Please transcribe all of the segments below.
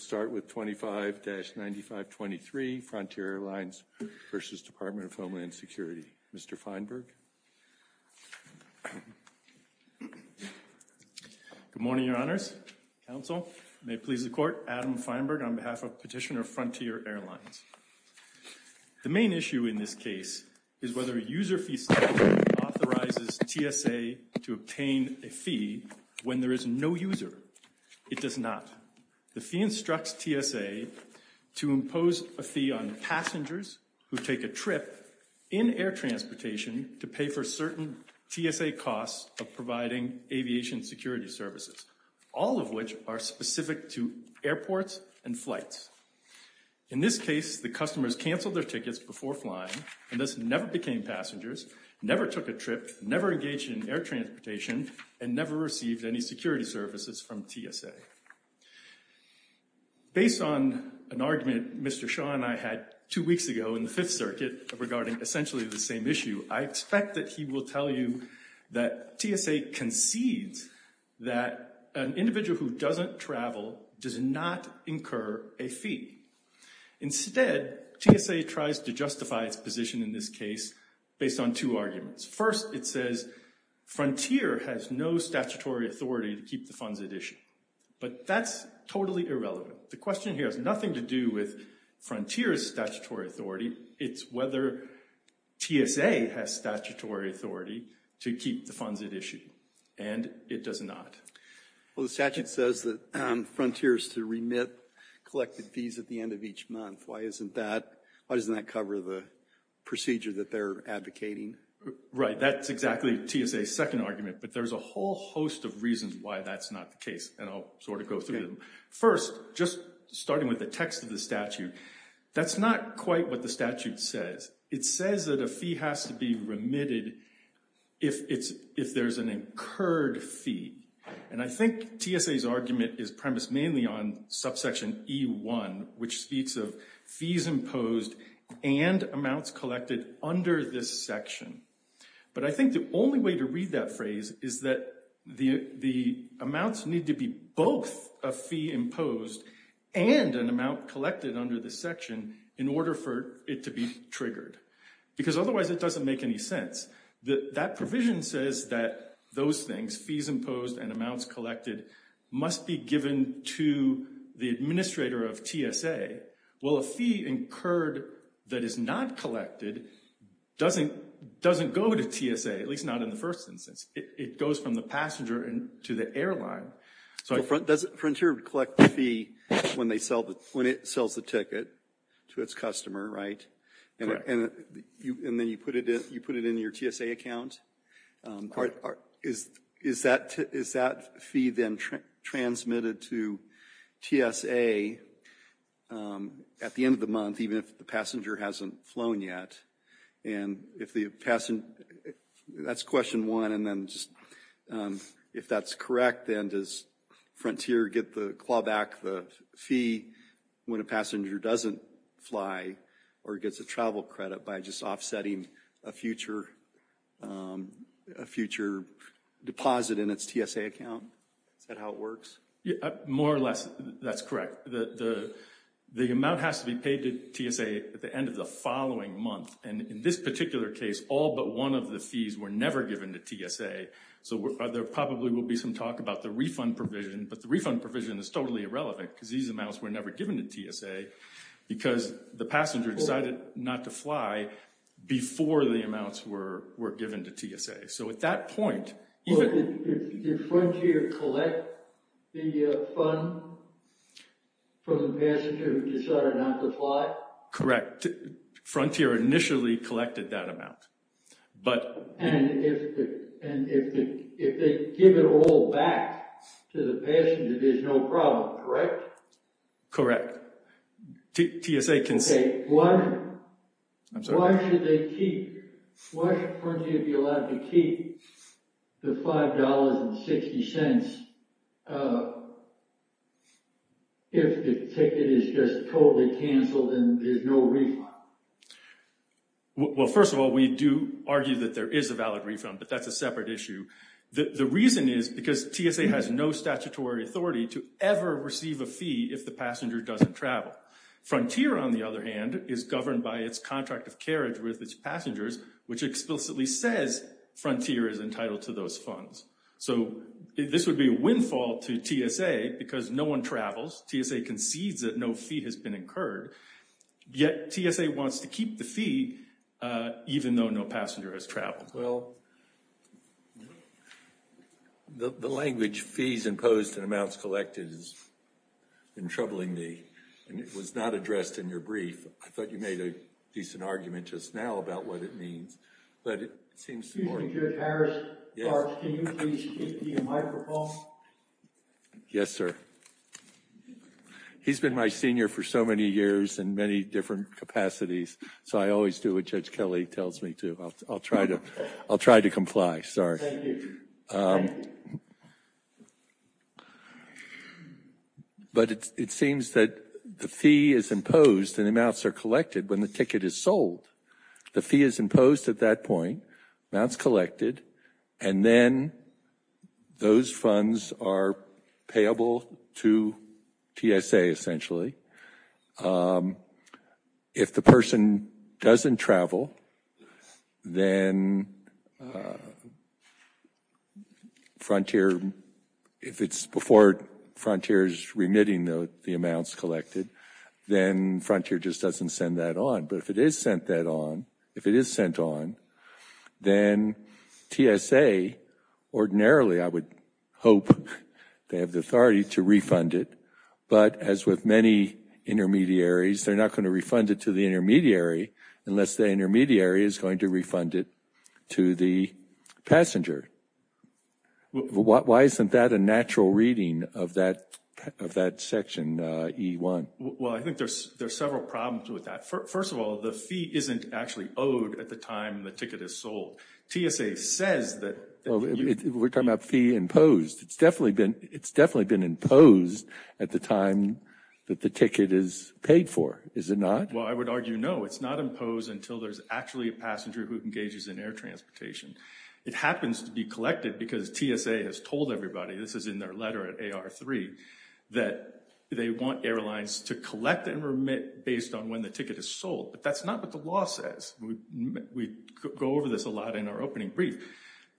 We'll start with 25-9523, Frontier Airlines v. Department of Homeland Security. Mr. Feinberg. Good morning, Your Honors. Counsel, may it please the Court, Adam Feinberg, on behalf of Petitioner Frontier Airlines. The main issue in this case is whether a user-fee statute authorizes TSA to obtain a fee when there is no user. It does not. The fee instructs TSA to impose a fee on passengers who take a trip in air transportation to pay for certain TSA costs of providing aviation security services, all of which are specific to airports and flights. In this case, the customers canceled their tickets before flying, and thus never became passengers, never took a trip, never engaged in air transportation, and never received any security services from TSA. Based on an argument Mr. Shaw and I had two weeks ago in the Fifth Circuit regarding essentially the same issue, I expect that he will tell you that TSA concedes that an individual who doesn't travel does not incur a fee. Instead, TSA tries to justify its position in this case based on two arguments. First, it says Frontier has no statutory authority to keep the funds at issue, but that's totally irrelevant. The question here has nothing to do with Frontier's statutory authority. It's whether TSA has statutory authority to keep the funds at issue, and it does not. Well, the statute says that Frontier is to remit collected fees at the end of each month. Why isn't that? Why doesn't that cover the procedure that they're advocating? Right, that's exactly TSA's second argument, but there's a whole host of reasons why that's not the case, and I'll sort of go through them. First, just starting with the text of the statute, that's not quite what the statute says. It says that a fee has to be remitted if there's an incurred fee, and I think TSA's argument is premised mainly on subsection E-1, which speaks of fees imposed and amounts collected under this section, but I think the only way to read that phrase is that the amounts need to be both a fee imposed and an amount collected under this section in order for it to be triggered, because otherwise it doesn't make any sense. That provision says that those things, fees imposed and amounts collected, must be given to the administrator of TSA. Well, a fee incurred that is not collected doesn't go to TSA, at least not in the first instance. It goes from the passenger to the airline. Does Frontier collect the fee when it sells the ticket to its customer, right? Correct. And then you put it in your TSA account? Is that fee then transmitted to TSA at the end of the month, even if the passenger hasn't flown yet? If that's correct, then does Frontier claw back the fee when a passenger doesn't fly or gets a travel credit by just offsetting a future deposit in its TSA account? Is that how it works? More or less, that's correct. The amount has to be paid to TSA at the end of the following month. This particular case, all but one of the fees were never given to TSA. So there probably will be some talk about the refund provision, but the refund provision is totally irrelevant because these amounts were never given to TSA because the passenger decided not to fly before the amounts were given to TSA. So at that point... Did Frontier collect the fund from the passenger who decided not to fly? Correct. Frontier initially collected that amount, but... And if they give it all back to the passenger, there's no problem, correct? Correct. TSA can say, why should Frontier be allowed to keep the $5.60 if the ticket is just totally canceled and there's no refund? Well, first of all, we do argue that there is a valid refund, but that's a separate issue. The reason is because TSA has no statutory authority to ever receive a fee if the passenger doesn't travel. Frontier, on the other hand, is governed by its contract of carriage with passengers, which explicitly says Frontier is entitled to those funds. So this would be a windfall to TSA because no one travels. TSA concedes that no fee has been incurred, yet TSA wants to keep the fee even though no passenger has traveled. Well, the language fees imposed and amounts collected has been troubling me, and it was not addressed in your brief. I thought you made a decent argument just now about what it means, but it seems... Excuse me, Judge Harris, can you please give the microphone? Yes, sir. He's been my senior for so many years in many different capacities, so I always do what Judge Kelly tells me to. I'll try to comply, sorry. Thank you. But it seems that the fee is imposed and amounts are collected when the ticket is sold. The fee is imposed at that point, amounts collected, and then those funds are payable to TSA, essentially. If the person doesn't travel, then Frontier, if it's before Frontier's remitting the amounts collected, then Frontier just doesn't send that on. But if it is sent that on, if it is sent on, then TSA ordinarily, I would hope they have the authority to refund it. But as with many intermediaries, they're not going to refund it to the intermediary unless the intermediary is going to refund it to the passenger. Why isn't that a natural reading of that section E1? Well, I think there's several problems with that. First of all, the fee isn't actually owed at the time the ticket is sold. TSA says that... We're talking about fee imposed. It's definitely been imposed at the time that the ticket is paid for, is it not? Well, I would argue no. It's not imposed until there's actually a passenger who engages in air transportation. It happens to be collected because TSA has told everybody, this is in their letter at AR3, that they want airlines to collect and remit based on when the ticket is sold. But that's not what the law says. We go over this a lot in our opening brief.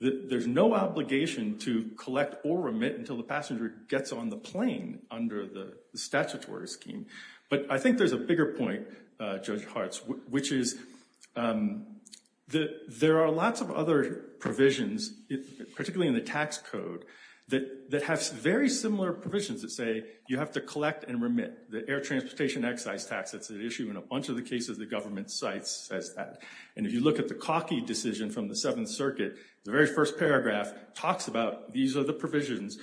There's no obligation to collect or remit until the passenger gets on the plane under the statutory scheme. But I think there's a bigger point, Judge Hartz, which is that there are lots of other provisions, particularly in the tax code, that have very similar provisions that say you have to collect and remit. The air transportation excise tax, that's an issue in a bunch of the cases the government cites as that. And if you look at the Cockey decision from the Seventh Circuit, the very first paragraph talks about these are the provisions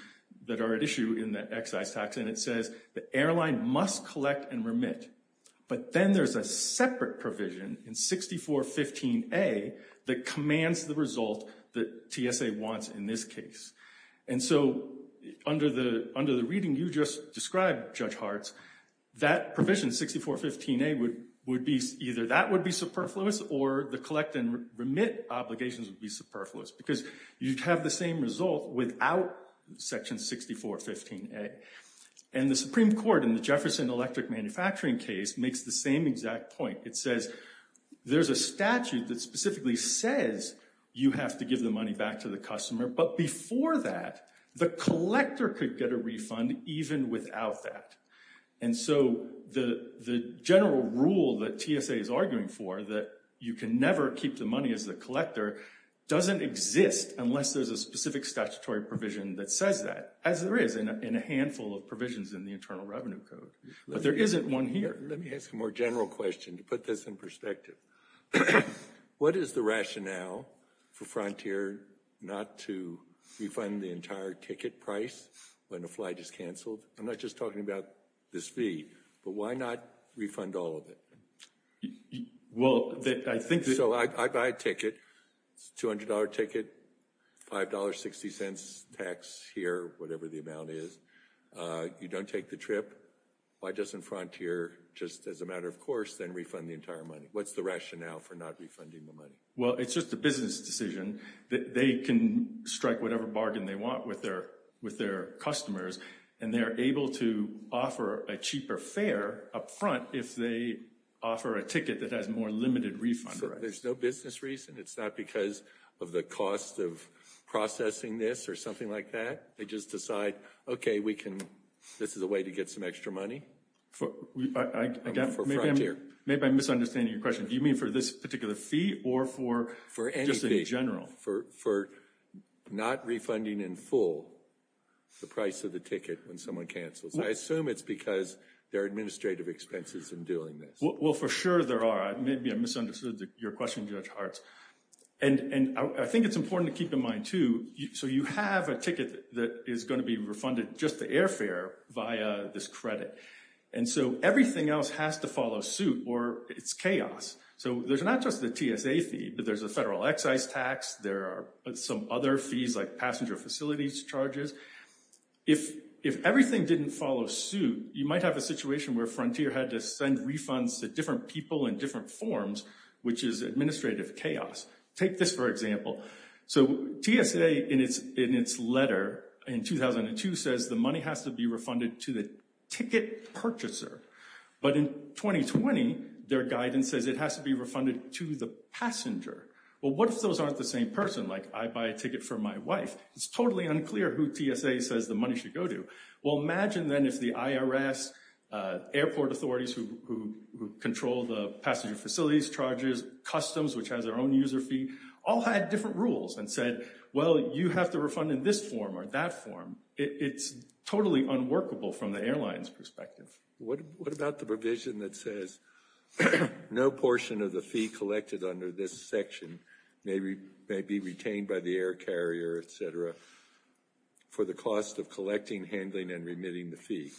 that are at issue in the excise tax. And it says the airline must collect and remit. But then there's a separate provision in 6415A that commands the result that TSA wants in this case. And so under the reading you just described, Judge Hartz, that provision, 6415A, either that would be superfluous or the collect and remit obligations would be superfluous because you'd have the same result without section 6415A. And the Supreme Court in the Jefferson Electric Manufacturing case makes the same exact point. It says there's a statute that specifically says you have to give the money back to the customer. But before that, the collector could get a refund even without that. And so the general rule that TSA is arguing for, that you can never keep the money as the collector, doesn't exist unless there's a specific statutory provision that says that, as there is in a handful of provisions in the Internal Revenue Code. But there isn't one here. Let me ask a more general question to put this in perspective. What is the rationale for Frontier not to refund the entire ticket price when a flight is canceled? I'm not just talking about this fee, but why not refund all of it? Well, I think... So I buy a ticket, it's a $200 ticket, $5.60 tax here, whatever the amount is. You don't take the trip. Why doesn't Frontier, just as a matter of course, then refund the entire money? What's the rationale for not refunding the money? Well, it's just a business decision. They can strike whatever bargain they want with their customers and they're able to offer a cheaper fare up front if they offer a ticket that has more limited refund. There's no business reason. It's not because of the cost of processing this or something like that. They just decide, okay, we can... This is a way to get some extra money for Frontier. Maybe I'm misunderstanding your question. Do you mean for this particular fee or for just in general? For not refunding in full the price of the ticket when someone cancels. I assume it's because there are administrative expenses in doing this. Well, for sure there are. Maybe I misunderstood your question, Judge Hartz. And I think it's important to keep in mind too, so you have a ticket that is going to be refunded just to airfare via this credit. And so everything else has to follow suit or it's chaos. So there's not just the TSA fee, but there's a federal excise tax, some other fees like passenger facilities charges. If everything didn't follow suit, you might have a situation where Frontier had to send refunds to different people in different forms, which is administrative chaos. Take this for example. So TSA in its letter in 2002 says the money has to be refunded to the ticket purchaser. But in 2020, their guidance says it has to be refunded to the passenger. Well, what if those aren't the same person? Like I buy a ticket for my wife. It's totally unclear who TSA says the money should go to. Well, imagine then if the IRS, airport authorities who control the passenger facilities charges, customs, which has their own user fee, all had different rules and said, well, you have to refund in this form or that form. It's totally unworkable from the airline's perspective. What about the provision that says no portion of the fee collected under this section may be retained by the air carrier, et cetera, for the cost of collecting, handling, and remitting the fee,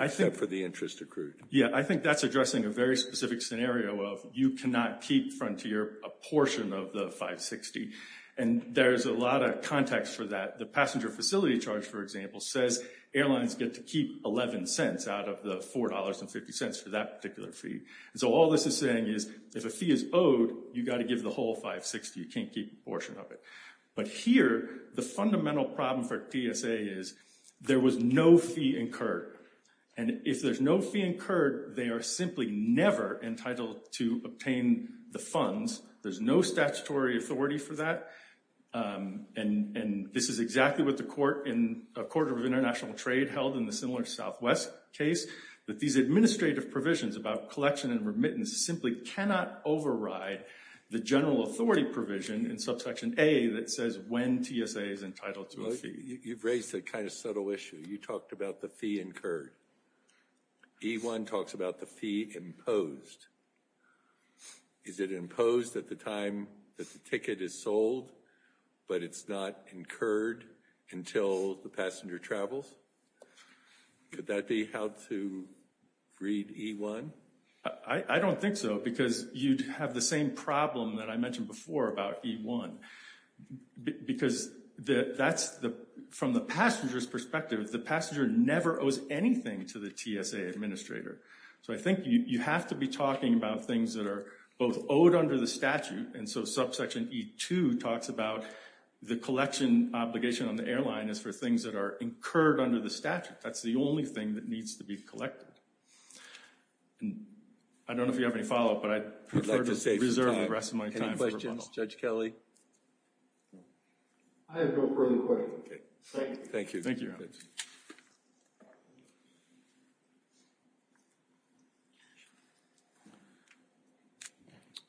except for the interest accrued? Yeah, I think that's addressing a very specific scenario of you cannot keep Frontier a portion of the 560. And there's a lot of context for that. The passenger facility charge, for example, says airlines get to keep 11 cents out of the $4.50 for that particular fee. So all this is saying is if a fee is owed, you've got to give the whole 560. You can't keep a portion of it. But here, the fundamental problem for TSA is there was no fee incurred. And if there's no fee incurred, they are simply never entitled to obtain the funds. There's no statutory authority for that. And this is exactly what the Court of International Trade held in the similar Southwest case, that these administrative provisions about collection and remittance simply cannot override the general authority provision in subsection A that says when TSA is entitled to a fee. You've raised a kind of subtle issue. You talked about the fee incurred. E1 talks about the fee imposed. Is it imposed at the time that the ticket is sold? But it's not incurred until the passenger travels? Could that be how to read E1? I don't think so. Because you'd have the same problem that I mentioned before about E1. Because from the passenger's perspective, the passenger never owes anything to the TSA administrator. So I think you have to be talking about things that are both owed under the statute. And so subsection E2 talks about the collection obligation on the airline is for things that are incurred under the statute. That's the only thing that needs to be collected. And I don't know if you have any follow-up, but I'd prefer to reserve the rest of my time. Any questions, Judge Kelley? I have no further questions. Thank you. Thank you, Your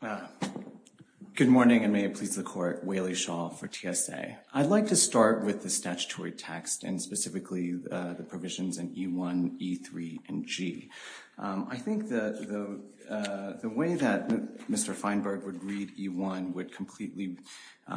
Honor. Good morning, and may it please the Court. Whaley Shaw for TSA. I'd like to start with the statutory text, and specifically the provisions in E1, E3, and G. I think the way that Mr. Feinberg would read E1 would completely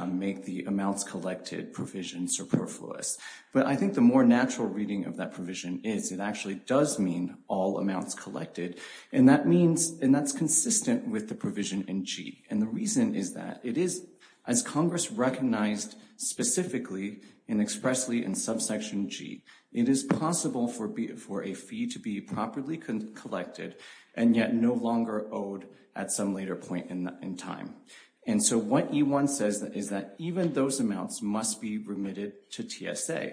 make the amounts collected provision superfluous. But I think the more natural reading of that provision is it actually does mean all amounts collected. And that's consistent with the provision in G. And the reason is that it is, as Congress recognized specifically and expressly in subsection G, it is possible for a fee to be properly collected and yet no longer owed at some later point in time. And so what E1 says is that even those amounts must be remitted to TSA.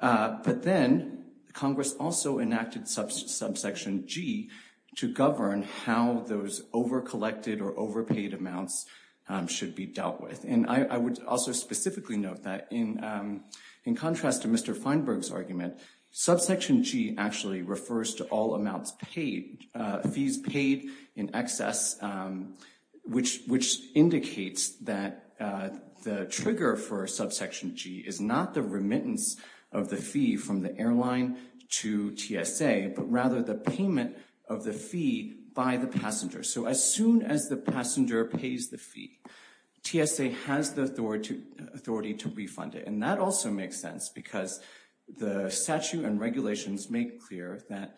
But then Congress also enacted subsection G to govern how those overcollected or overpaid amounts should be dealt with. And I would also specifically note that in contrast to Mr. Feinberg's argument, subsection G actually refers to all amounts paid, fees paid in excess, which indicates that the trigger for subsection G is not the remittance of the fee from the airline to TSA, but rather the payment of the fee by the passenger. So as soon as the passenger pays the fee, TSA has the authority to refund it. And that also makes sense because the statute and regulations make clear that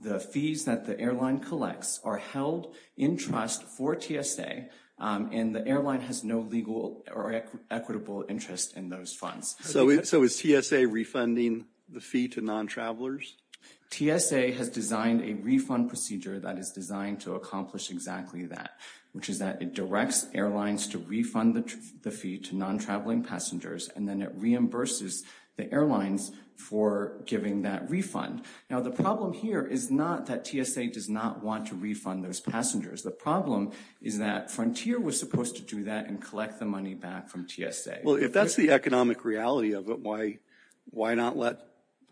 the fees that the airline collects are held in trust for TSA and the airline has no legal or equitable interest in those funds. So is TSA refunding the fee to non-travelers? TSA has designed a refund procedure that is designed to accomplish exactly that, which is that it directs airlines to refund the fee to non-traveling passengers and then it reimburses the airlines for giving that refund. Now, the problem here is not that TSA does not want to refund those passengers. The problem is that Frontier was supposed to do that and collect the money back from TSA. Well, if that's the economic reality of it, why not let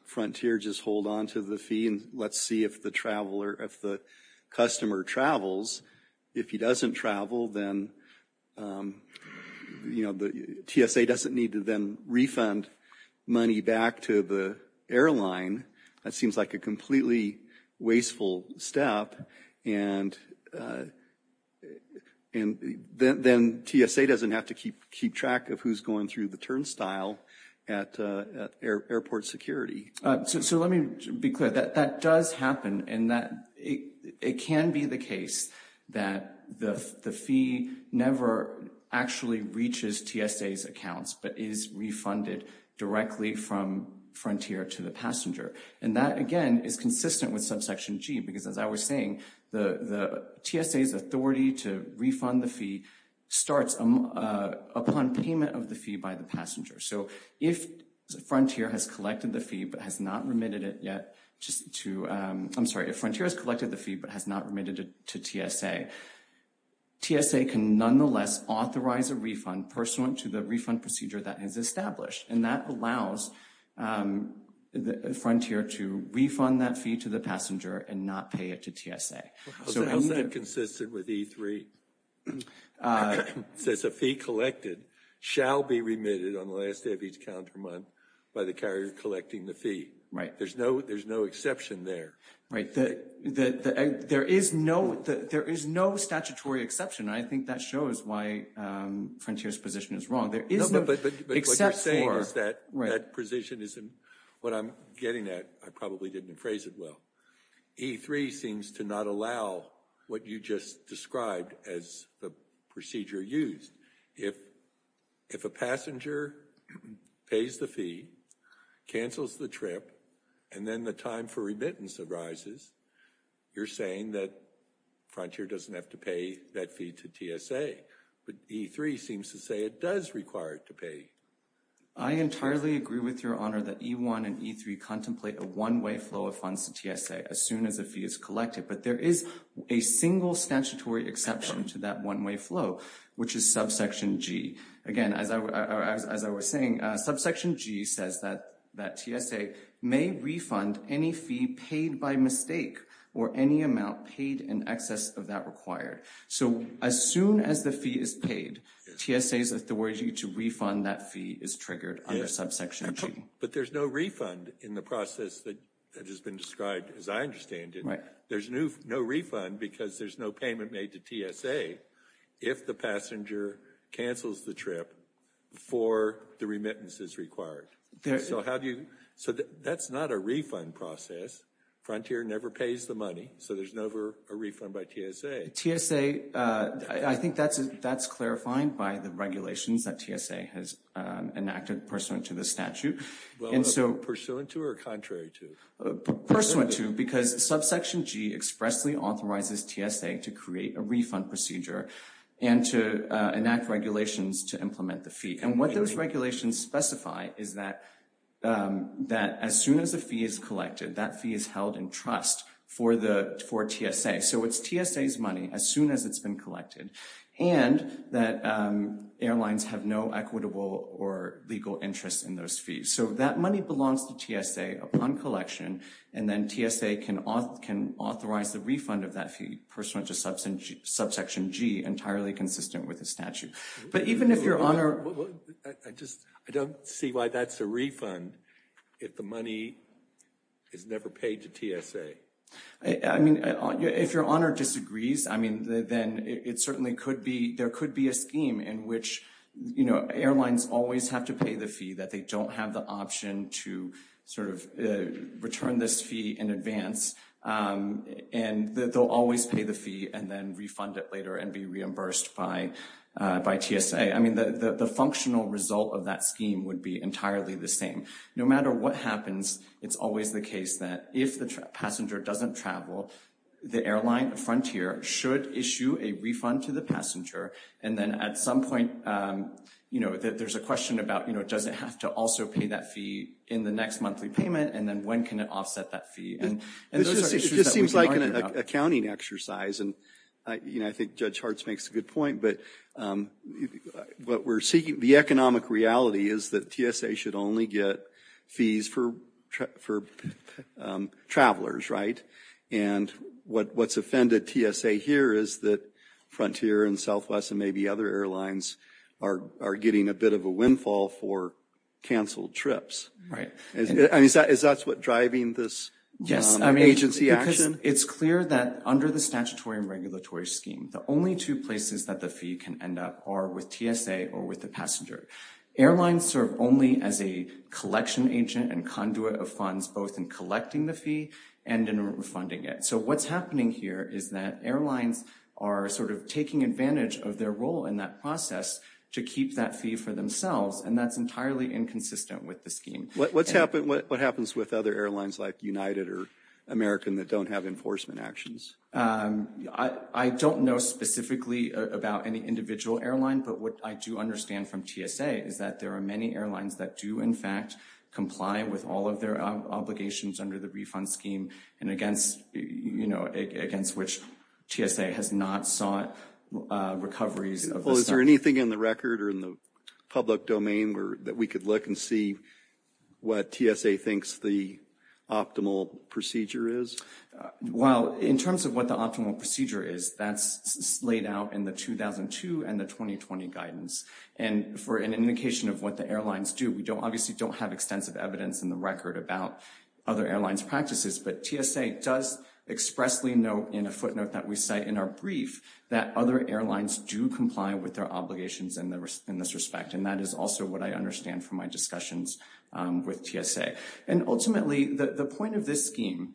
Frontier just hold on to the fee and let's see if the customer travels. If he doesn't travel, TSA doesn't need to then refund money back to the airline. That seems like a completely wasteful step. And then TSA doesn't have to keep track of who's going through the turnstile at airport security. So let me be clear. That does happen and it can be the case that the fee never actually reaches TSA's accounts but is refunded directly from Frontier to the passenger. And that, again, is consistent with subsection G because as I was saying, the TSA's authority to refund the fee starts upon payment of the fee by the passenger. If Frontier has collected the fee but has not remitted it to TSA, TSA can nonetheless authorize a refund pursuant to the refund procedure that is established. And that allows Frontier to refund that fee to the passenger and not pay it to TSA. How is that consistent with E3? It says a fee collected shall be remitted on the last day of each calendar month by the carrier collecting the fee. Right. There's no exception there. Right. There is no statutory exception. I think that shows why Frontier's position is wrong. There is no exception. But what you're saying is that that position isn't what I'm getting at. I probably didn't phrase it well. E3 seems to not allow what you just described as the procedure used. If a passenger pays the fee, cancels the trip, and then the time for remittance arises, you're saying that Frontier doesn't have to pay that fee to TSA. But E3 seems to say it does require it to pay. I entirely agree with your honor that E1 and E3 contemplate a one-way flow of funds to TSA as soon as a fee is collected. But there is a single statutory exception to that one-way flow, which is subsection G. Again, as I was saying, subsection G says that TSA may refund any fee paid by mistake or any amount paid in excess of that required. So as soon as the fee is paid, TSA's authority to refund that fee is triggered under subsection G. But there's no refund in the process that has been described, as I understand it. There's no refund because there's no payment made to TSA if the passenger cancels the trip before the remittance is required. So that's not a refund process. Frontier never pays the money. So there's never a refund by TSA. TSA, I think that's clarifying by the regulations that TSA has enacted pursuant to the statute. Pursuant to or contrary to? Pursuant to because subsection G expressly authorizes TSA to create a refund procedure and to enact regulations to implement the fee. And what those regulations specify is that that as soon as a fee is collected, that fee is held in trust for TSA. So it's TSA's money as soon as it's been collected. And that airlines have no equitable or legal interest in those fees. So that money belongs to TSA upon collection. And then TSA can authorize the refund of that fee pursuant to subsection G, entirely consistent with the statute. But even if Your Honor... I don't see why that's a refund if the money is never paid to TSA. I mean, if Your Honor disagrees, I mean, then it certainly could be, there could be a scheme in which, you know, airlines always have to pay the fee that they don't have the option to sort of return this fee in advance. And they'll always pay the fee and then refund it later and be reimbursed by TSA. I mean, the functional result of that scheme would be entirely the same. No matter what happens, it's always the case that if the passenger doesn't travel, the airline frontier should issue a refund to the passenger. And then at some point, you know, there's a question about, you know, does it have to also pay that fee in the next monthly payment? And then when can it offset that fee? And those are issues that we can argue about. It just seems like an accounting exercise. And, you know, I think Judge Hartz makes a good point. But what we're seeking, the economic reality is that TSA should only get fees for travelers, right? And what's offended TSA here is that Frontier and Southwest and maybe other airlines are getting a bit of a windfall for canceled trips. Is that what's driving this agency action? It's clear that under the statutory and regulatory scheme, the only two places that the fee can end up are with TSA or with the passenger. Airlines serve only as a collection agent and conduit of funds, both in collecting the fee and in refunding it. So what's happening here is that airlines are sort of taking advantage of their role in that process to keep that fee for themselves. And that's entirely inconsistent with the scheme. What happens with other airlines like United or American that don't have enforcement actions? I don't know specifically about any individual airline. But what I do understand from TSA is that there are many airlines that do, in fact, comply with all of their obligations under the refund scheme and against, you know, against which TSA has not sought recoveries. Is there anything in the record or in the public domain that we could look and see what TSA thinks the optimal procedure is? Well, in terms of what the optimal procedure is, that's laid out in the 2002 and the 2020 guidance. And for an indication of what the airlines do, we don't obviously don't have extensive evidence in the record about other airlines' practices. But TSA does expressly note in a footnote that we cite in our brief that other airlines do comply with their obligations in this respect. And that is also what I understand from my discussions with TSA. And ultimately, the point of this scheme,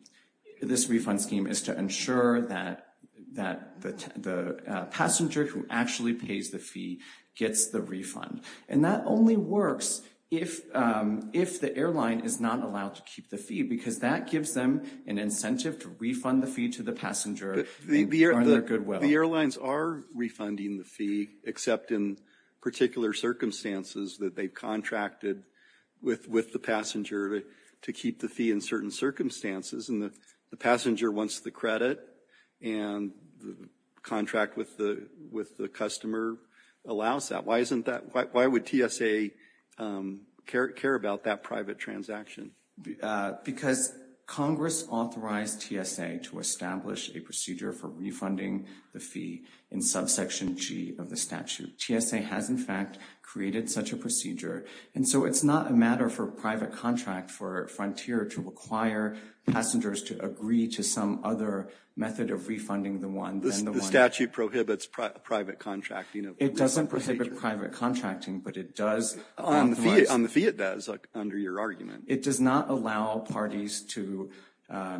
this refund scheme, is to ensure that the passenger who actually pays the fee gets the refund. And that only works if the airline is not allowed to keep the fee because that gives them an incentive to refund the fee to the passenger for their goodwill. So the airlines are refunding the fee except in particular circumstances that they've contracted with the passenger to keep the fee in certain circumstances. And the passenger wants the credit and the contract with the customer allows that. Why isn't that? Why would TSA care about that private transaction? Because Congress authorized TSA to establish a procedure for refunding the fee in subsection G of the statute. TSA has, in fact, created such a procedure. And so it's not a matter for private contract for Frontier to require passengers to agree to some other method of refunding the one. The statute prohibits private contracting. It doesn't prohibit private contracting, but it does. On the fee it does, under your argument. It does not allow parties to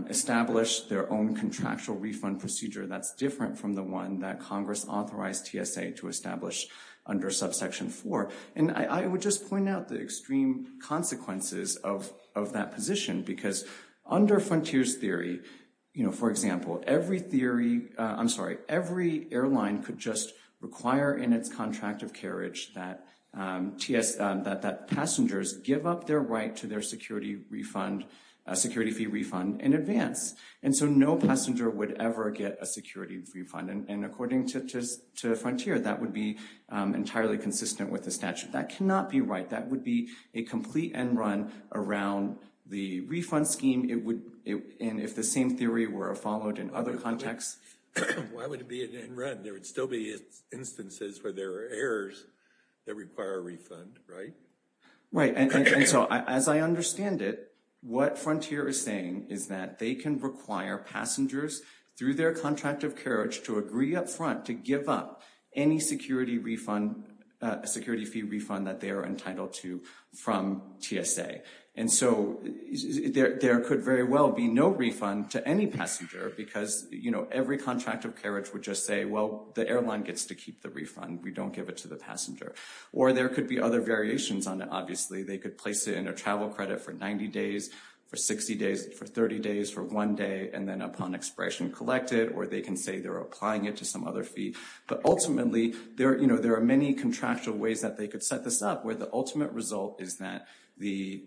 establish their own contractual refund procedure that's different from the one that Congress authorized TSA to establish under subsection 4. And I would just point out the extreme consequences of that position because under Frontier's theory, you know, for example, every theory, I'm sorry, every airline could just require in its contract of carriage that TSA, that passengers give up their right to their security refund, security fee refund in advance. And so no passenger would ever get a security refund. And according to Frontier, that would be entirely consistent with the statute. That cannot be right. That would be a complete end run around the refund scheme. It would, and if the same theory were followed in other contexts. Why would it be an end run? There would still be instances where there are errors that require a refund, right? Right, and so as I understand it, what Frontier is saying is that they can require passengers through their contract of carriage to agree up front to give up any security refund, security fee refund that they are entitled to from TSA. And so there could very well be no refund to any passenger because, you know, every contract of carriage would just say, the airline gets to keep the refund. We don't give it to the passenger. Or there could be other variations on it, obviously. They could place it in a travel credit for 90 days, for 60 days, for 30 days, for one day. And then upon expiration, collect it. Or they can say they're applying it to some other fee. But ultimately, there are many contractual ways that they could set this up where the ultimate result is that the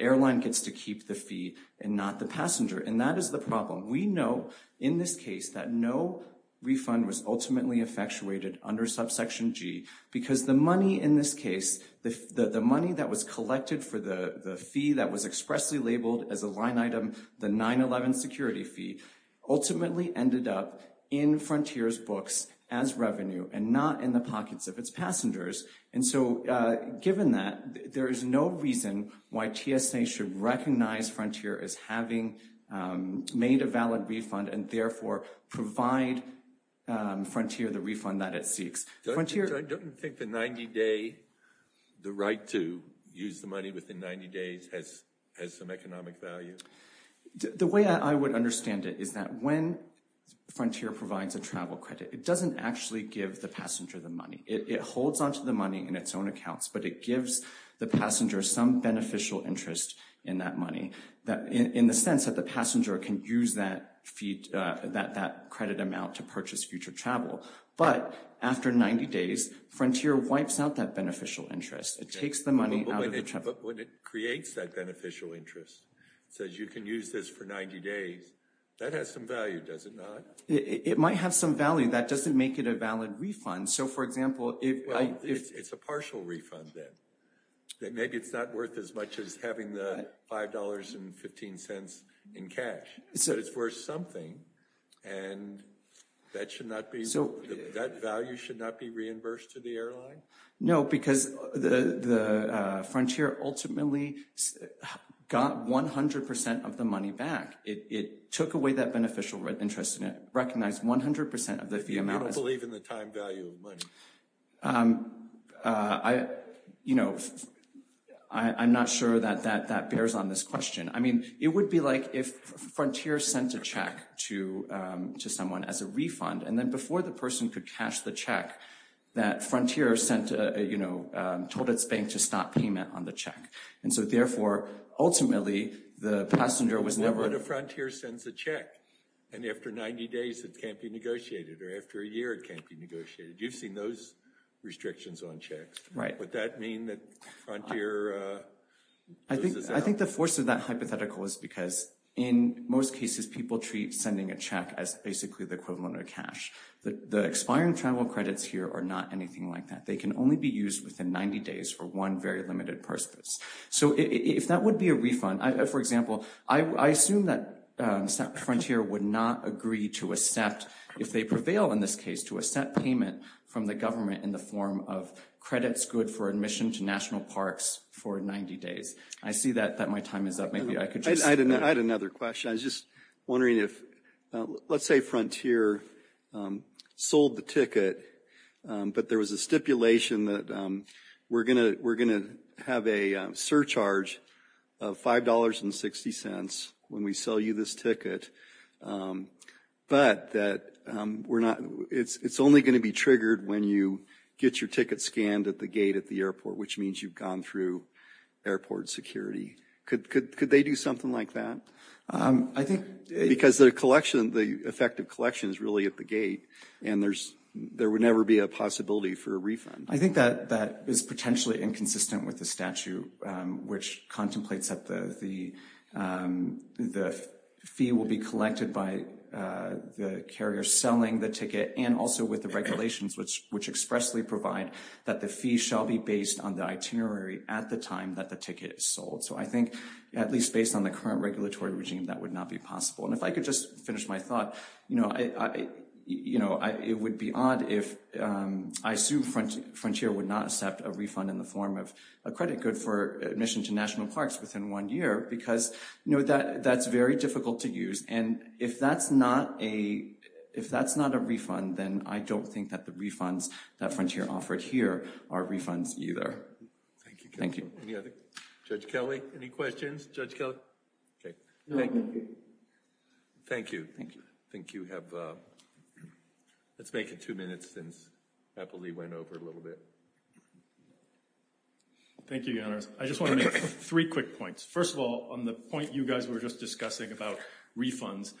airline gets to keep the fee and not the passenger. And that is the problem. We know in this case that no refund was ultimately effectuated under subsection G because the money in this case, the money that was collected for the fee that was expressly labeled as a line item, the 9-11 security fee, ultimately ended up in Frontier's books as revenue and not in the pockets of its passengers. And so given that, there is no reason why TSA should recognize Frontier as having made a valid refund and therefore provide Frontier the refund that it seeks. Frontier... Don't you think the 90-day, the right to use the money within 90 days has some economic value? The way I would understand it is that when Frontier provides a travel credit, it doesn't actually give the passenger the money. It holds onto the money in its own accounts. But it gives the passenger some beneficial interest in that money in the sense that the passenger can use that credit amount to purchase future travel. But after 90 days, Frontier wipes out that beneficial interest. It takes the money out of the travel. But when it creates that beneficial interest, it says you can use this for 90 days, that has some value, does it not? It might have some value. That doesn't make it a valid refund. So for example, if I... It's a partial refund then. Maybe it's not worth as much as having the $5.15 in cash, but it's worth something. And that value should not be reimbursed to the airline? No, because Frontier ultimately got 100% of the money back. It took away that beneficial interest and it recognized 100% of the amount. You don't believe in the time value of money. I, you know, I'm not sure that that bears on this question. I mean, it would be like if Frontier sent a check to someone as a refund and then before the person could cash the check, that Frontier sent, you know, told its bank to stop payment on the check. And so therefore, ultimately, the passenger was never... What if Frontier sends a check and after 90 days it can't be negotiated or after a year it can't be negotiated? You've seen those restrictions on checks. Right. Would that mean that Frontier... I think the force of that hypothetical is because in most cases, people treat sending a check as basically the equivalent of cash. But the expiring travel credits here are not anything like that. They can only be used within 90 days for one very limited purpose. So if that would be a refund, for example, I assume that Frontier would not agree to accept, if they prevail in this case, to accept payment from the government in the form of credits good for admission to national parks for 90 days. I see that my time is up. Maybe I could just... I had another question. I was just wondering if... Let's say Frontier sold the ticket, but there was a stipulation that we're going to have a surcharge of $5.60 when we sell you this ticket. But that we're not... It's only going to be triggered when you get your ticket scanned at the gate at the airport, which means you've gone through airport security. Could they do something like that? I think... Because the collection, the effective collection is really at the gate, and there would never be a possibility for a refund. I think that that is potentially inconsistent with the statute, which contemplates that the fee will be collected by the carrier selling the ticket, and also with the regulations which expressly provide that the fee shall be based on the itinerary at the time that the ticket is sold. So I think, at least based on the current regulatory regime, that would not be possible. And if I could just finish my thought, it would be odd if... I assume Frontier would not accept a refund in the form of a credit good for admission to national parks within one year, because that's very difficult to use. And if that's not a refund, then I don't think that the refunds that Frontier offered here are refunds either. Thank you. Judge Kelly, any questions? Judge Kelly? Thank you. Thank you. I think you have... Let's make it two minutes since Eppley went over a little bit. Thank you, Your Honors. I just want to make three quick points. First of all, on the point you guys were just discussing about refunds,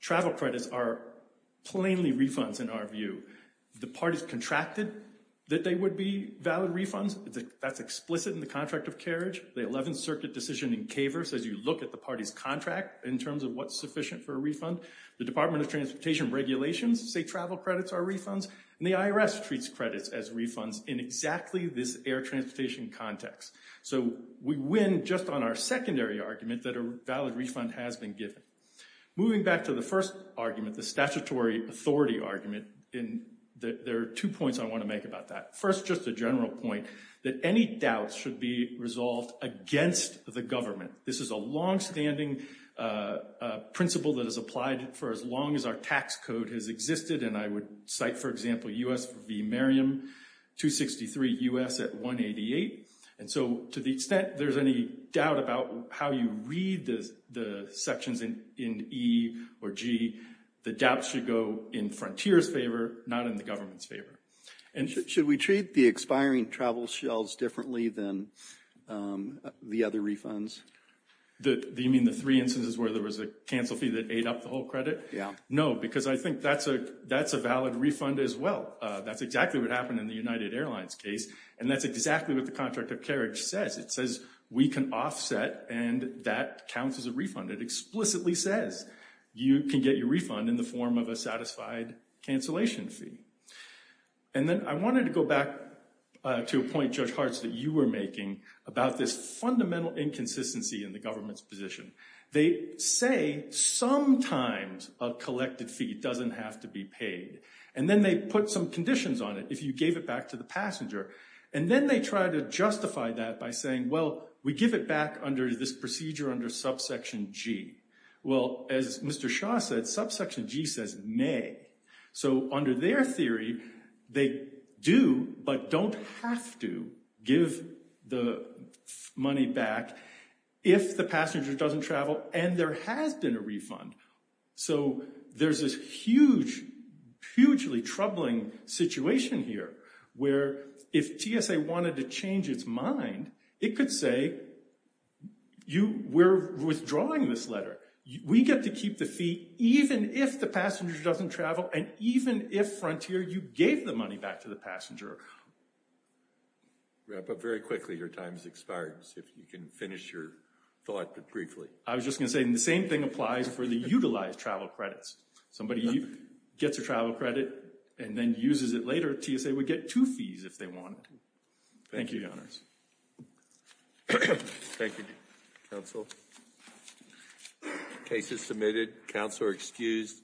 travel credits are plainly refunds in our view. The parties contracted that they would be valid refunds. That's explicit in the contract of carriage. The 11th Circuit decision in CAVR says you look at the party's contract in terms of what's sufficient for a refund. The Department of Transportation regulations say travel credits are refunds, and the IRS treats credits as refunds in exactly this air transportation context. So we win just on our secondary argument that a valid refund has been given. Moving back to the first argument, the statutory authority argument, there are two points I want to make about that. First, just a general point that any doubts should be resolved against the government. This is a long-standing principle that has applied for as long as our tax code has existed, and I would cite, for example, U.S. v. Merriam, 263 U.S. at 188. And so to the extent there's any doubt about how you read the sections in E or G, the doubts should go in Frontier's favor, not in the government's favor. Should we treat the expiring travel shells differently than the other refunds? Do you mean the three instances where there was a cancel fee that ate up the whole credit? Yeah. No, because I think that's a valid refund as well. That's exactly what happened in the United Airlines case, and that's exactly what the Contract of Carriage says. It says we can offset, and that counts as a refund. It explicitly says you can get your refund in the form of a satisfied cancellation fee. And then I wanted to go back to a point, Judge Hartz, that you were making about this fundamental inconsistency in the government's position. They say sometimes a collected fee doesn't have to be paid, and then they put some conditions on it, if you gave it back to the passenger, and then they try to justify that by saying, well, we give it back under this procedure under subsection G. Well, as Mr. Shaw said, subsection G says may. So under their theory, they do but don't have to give the money back if the passenger doesn't travel and there has been a refund. So there's this hugely troubling situation here where if TSA wanted to change its mind, it could say, we're withdrawing this letter. We get to keep the fee even if the passenger doesn't travel and even if, Frontier, you gave the money back to the passenger. Wrap up very quickly. Your time has expired. If you can finish your thought briefly. I was just going to say the same thing applies for the utilized travel credits. Somebody gets a travel credit and then uses it later, TSA would get two fees if they wanted to. Thank you, Your Honors. Thank you, Counsel. Case is submitted. Counsel are excused.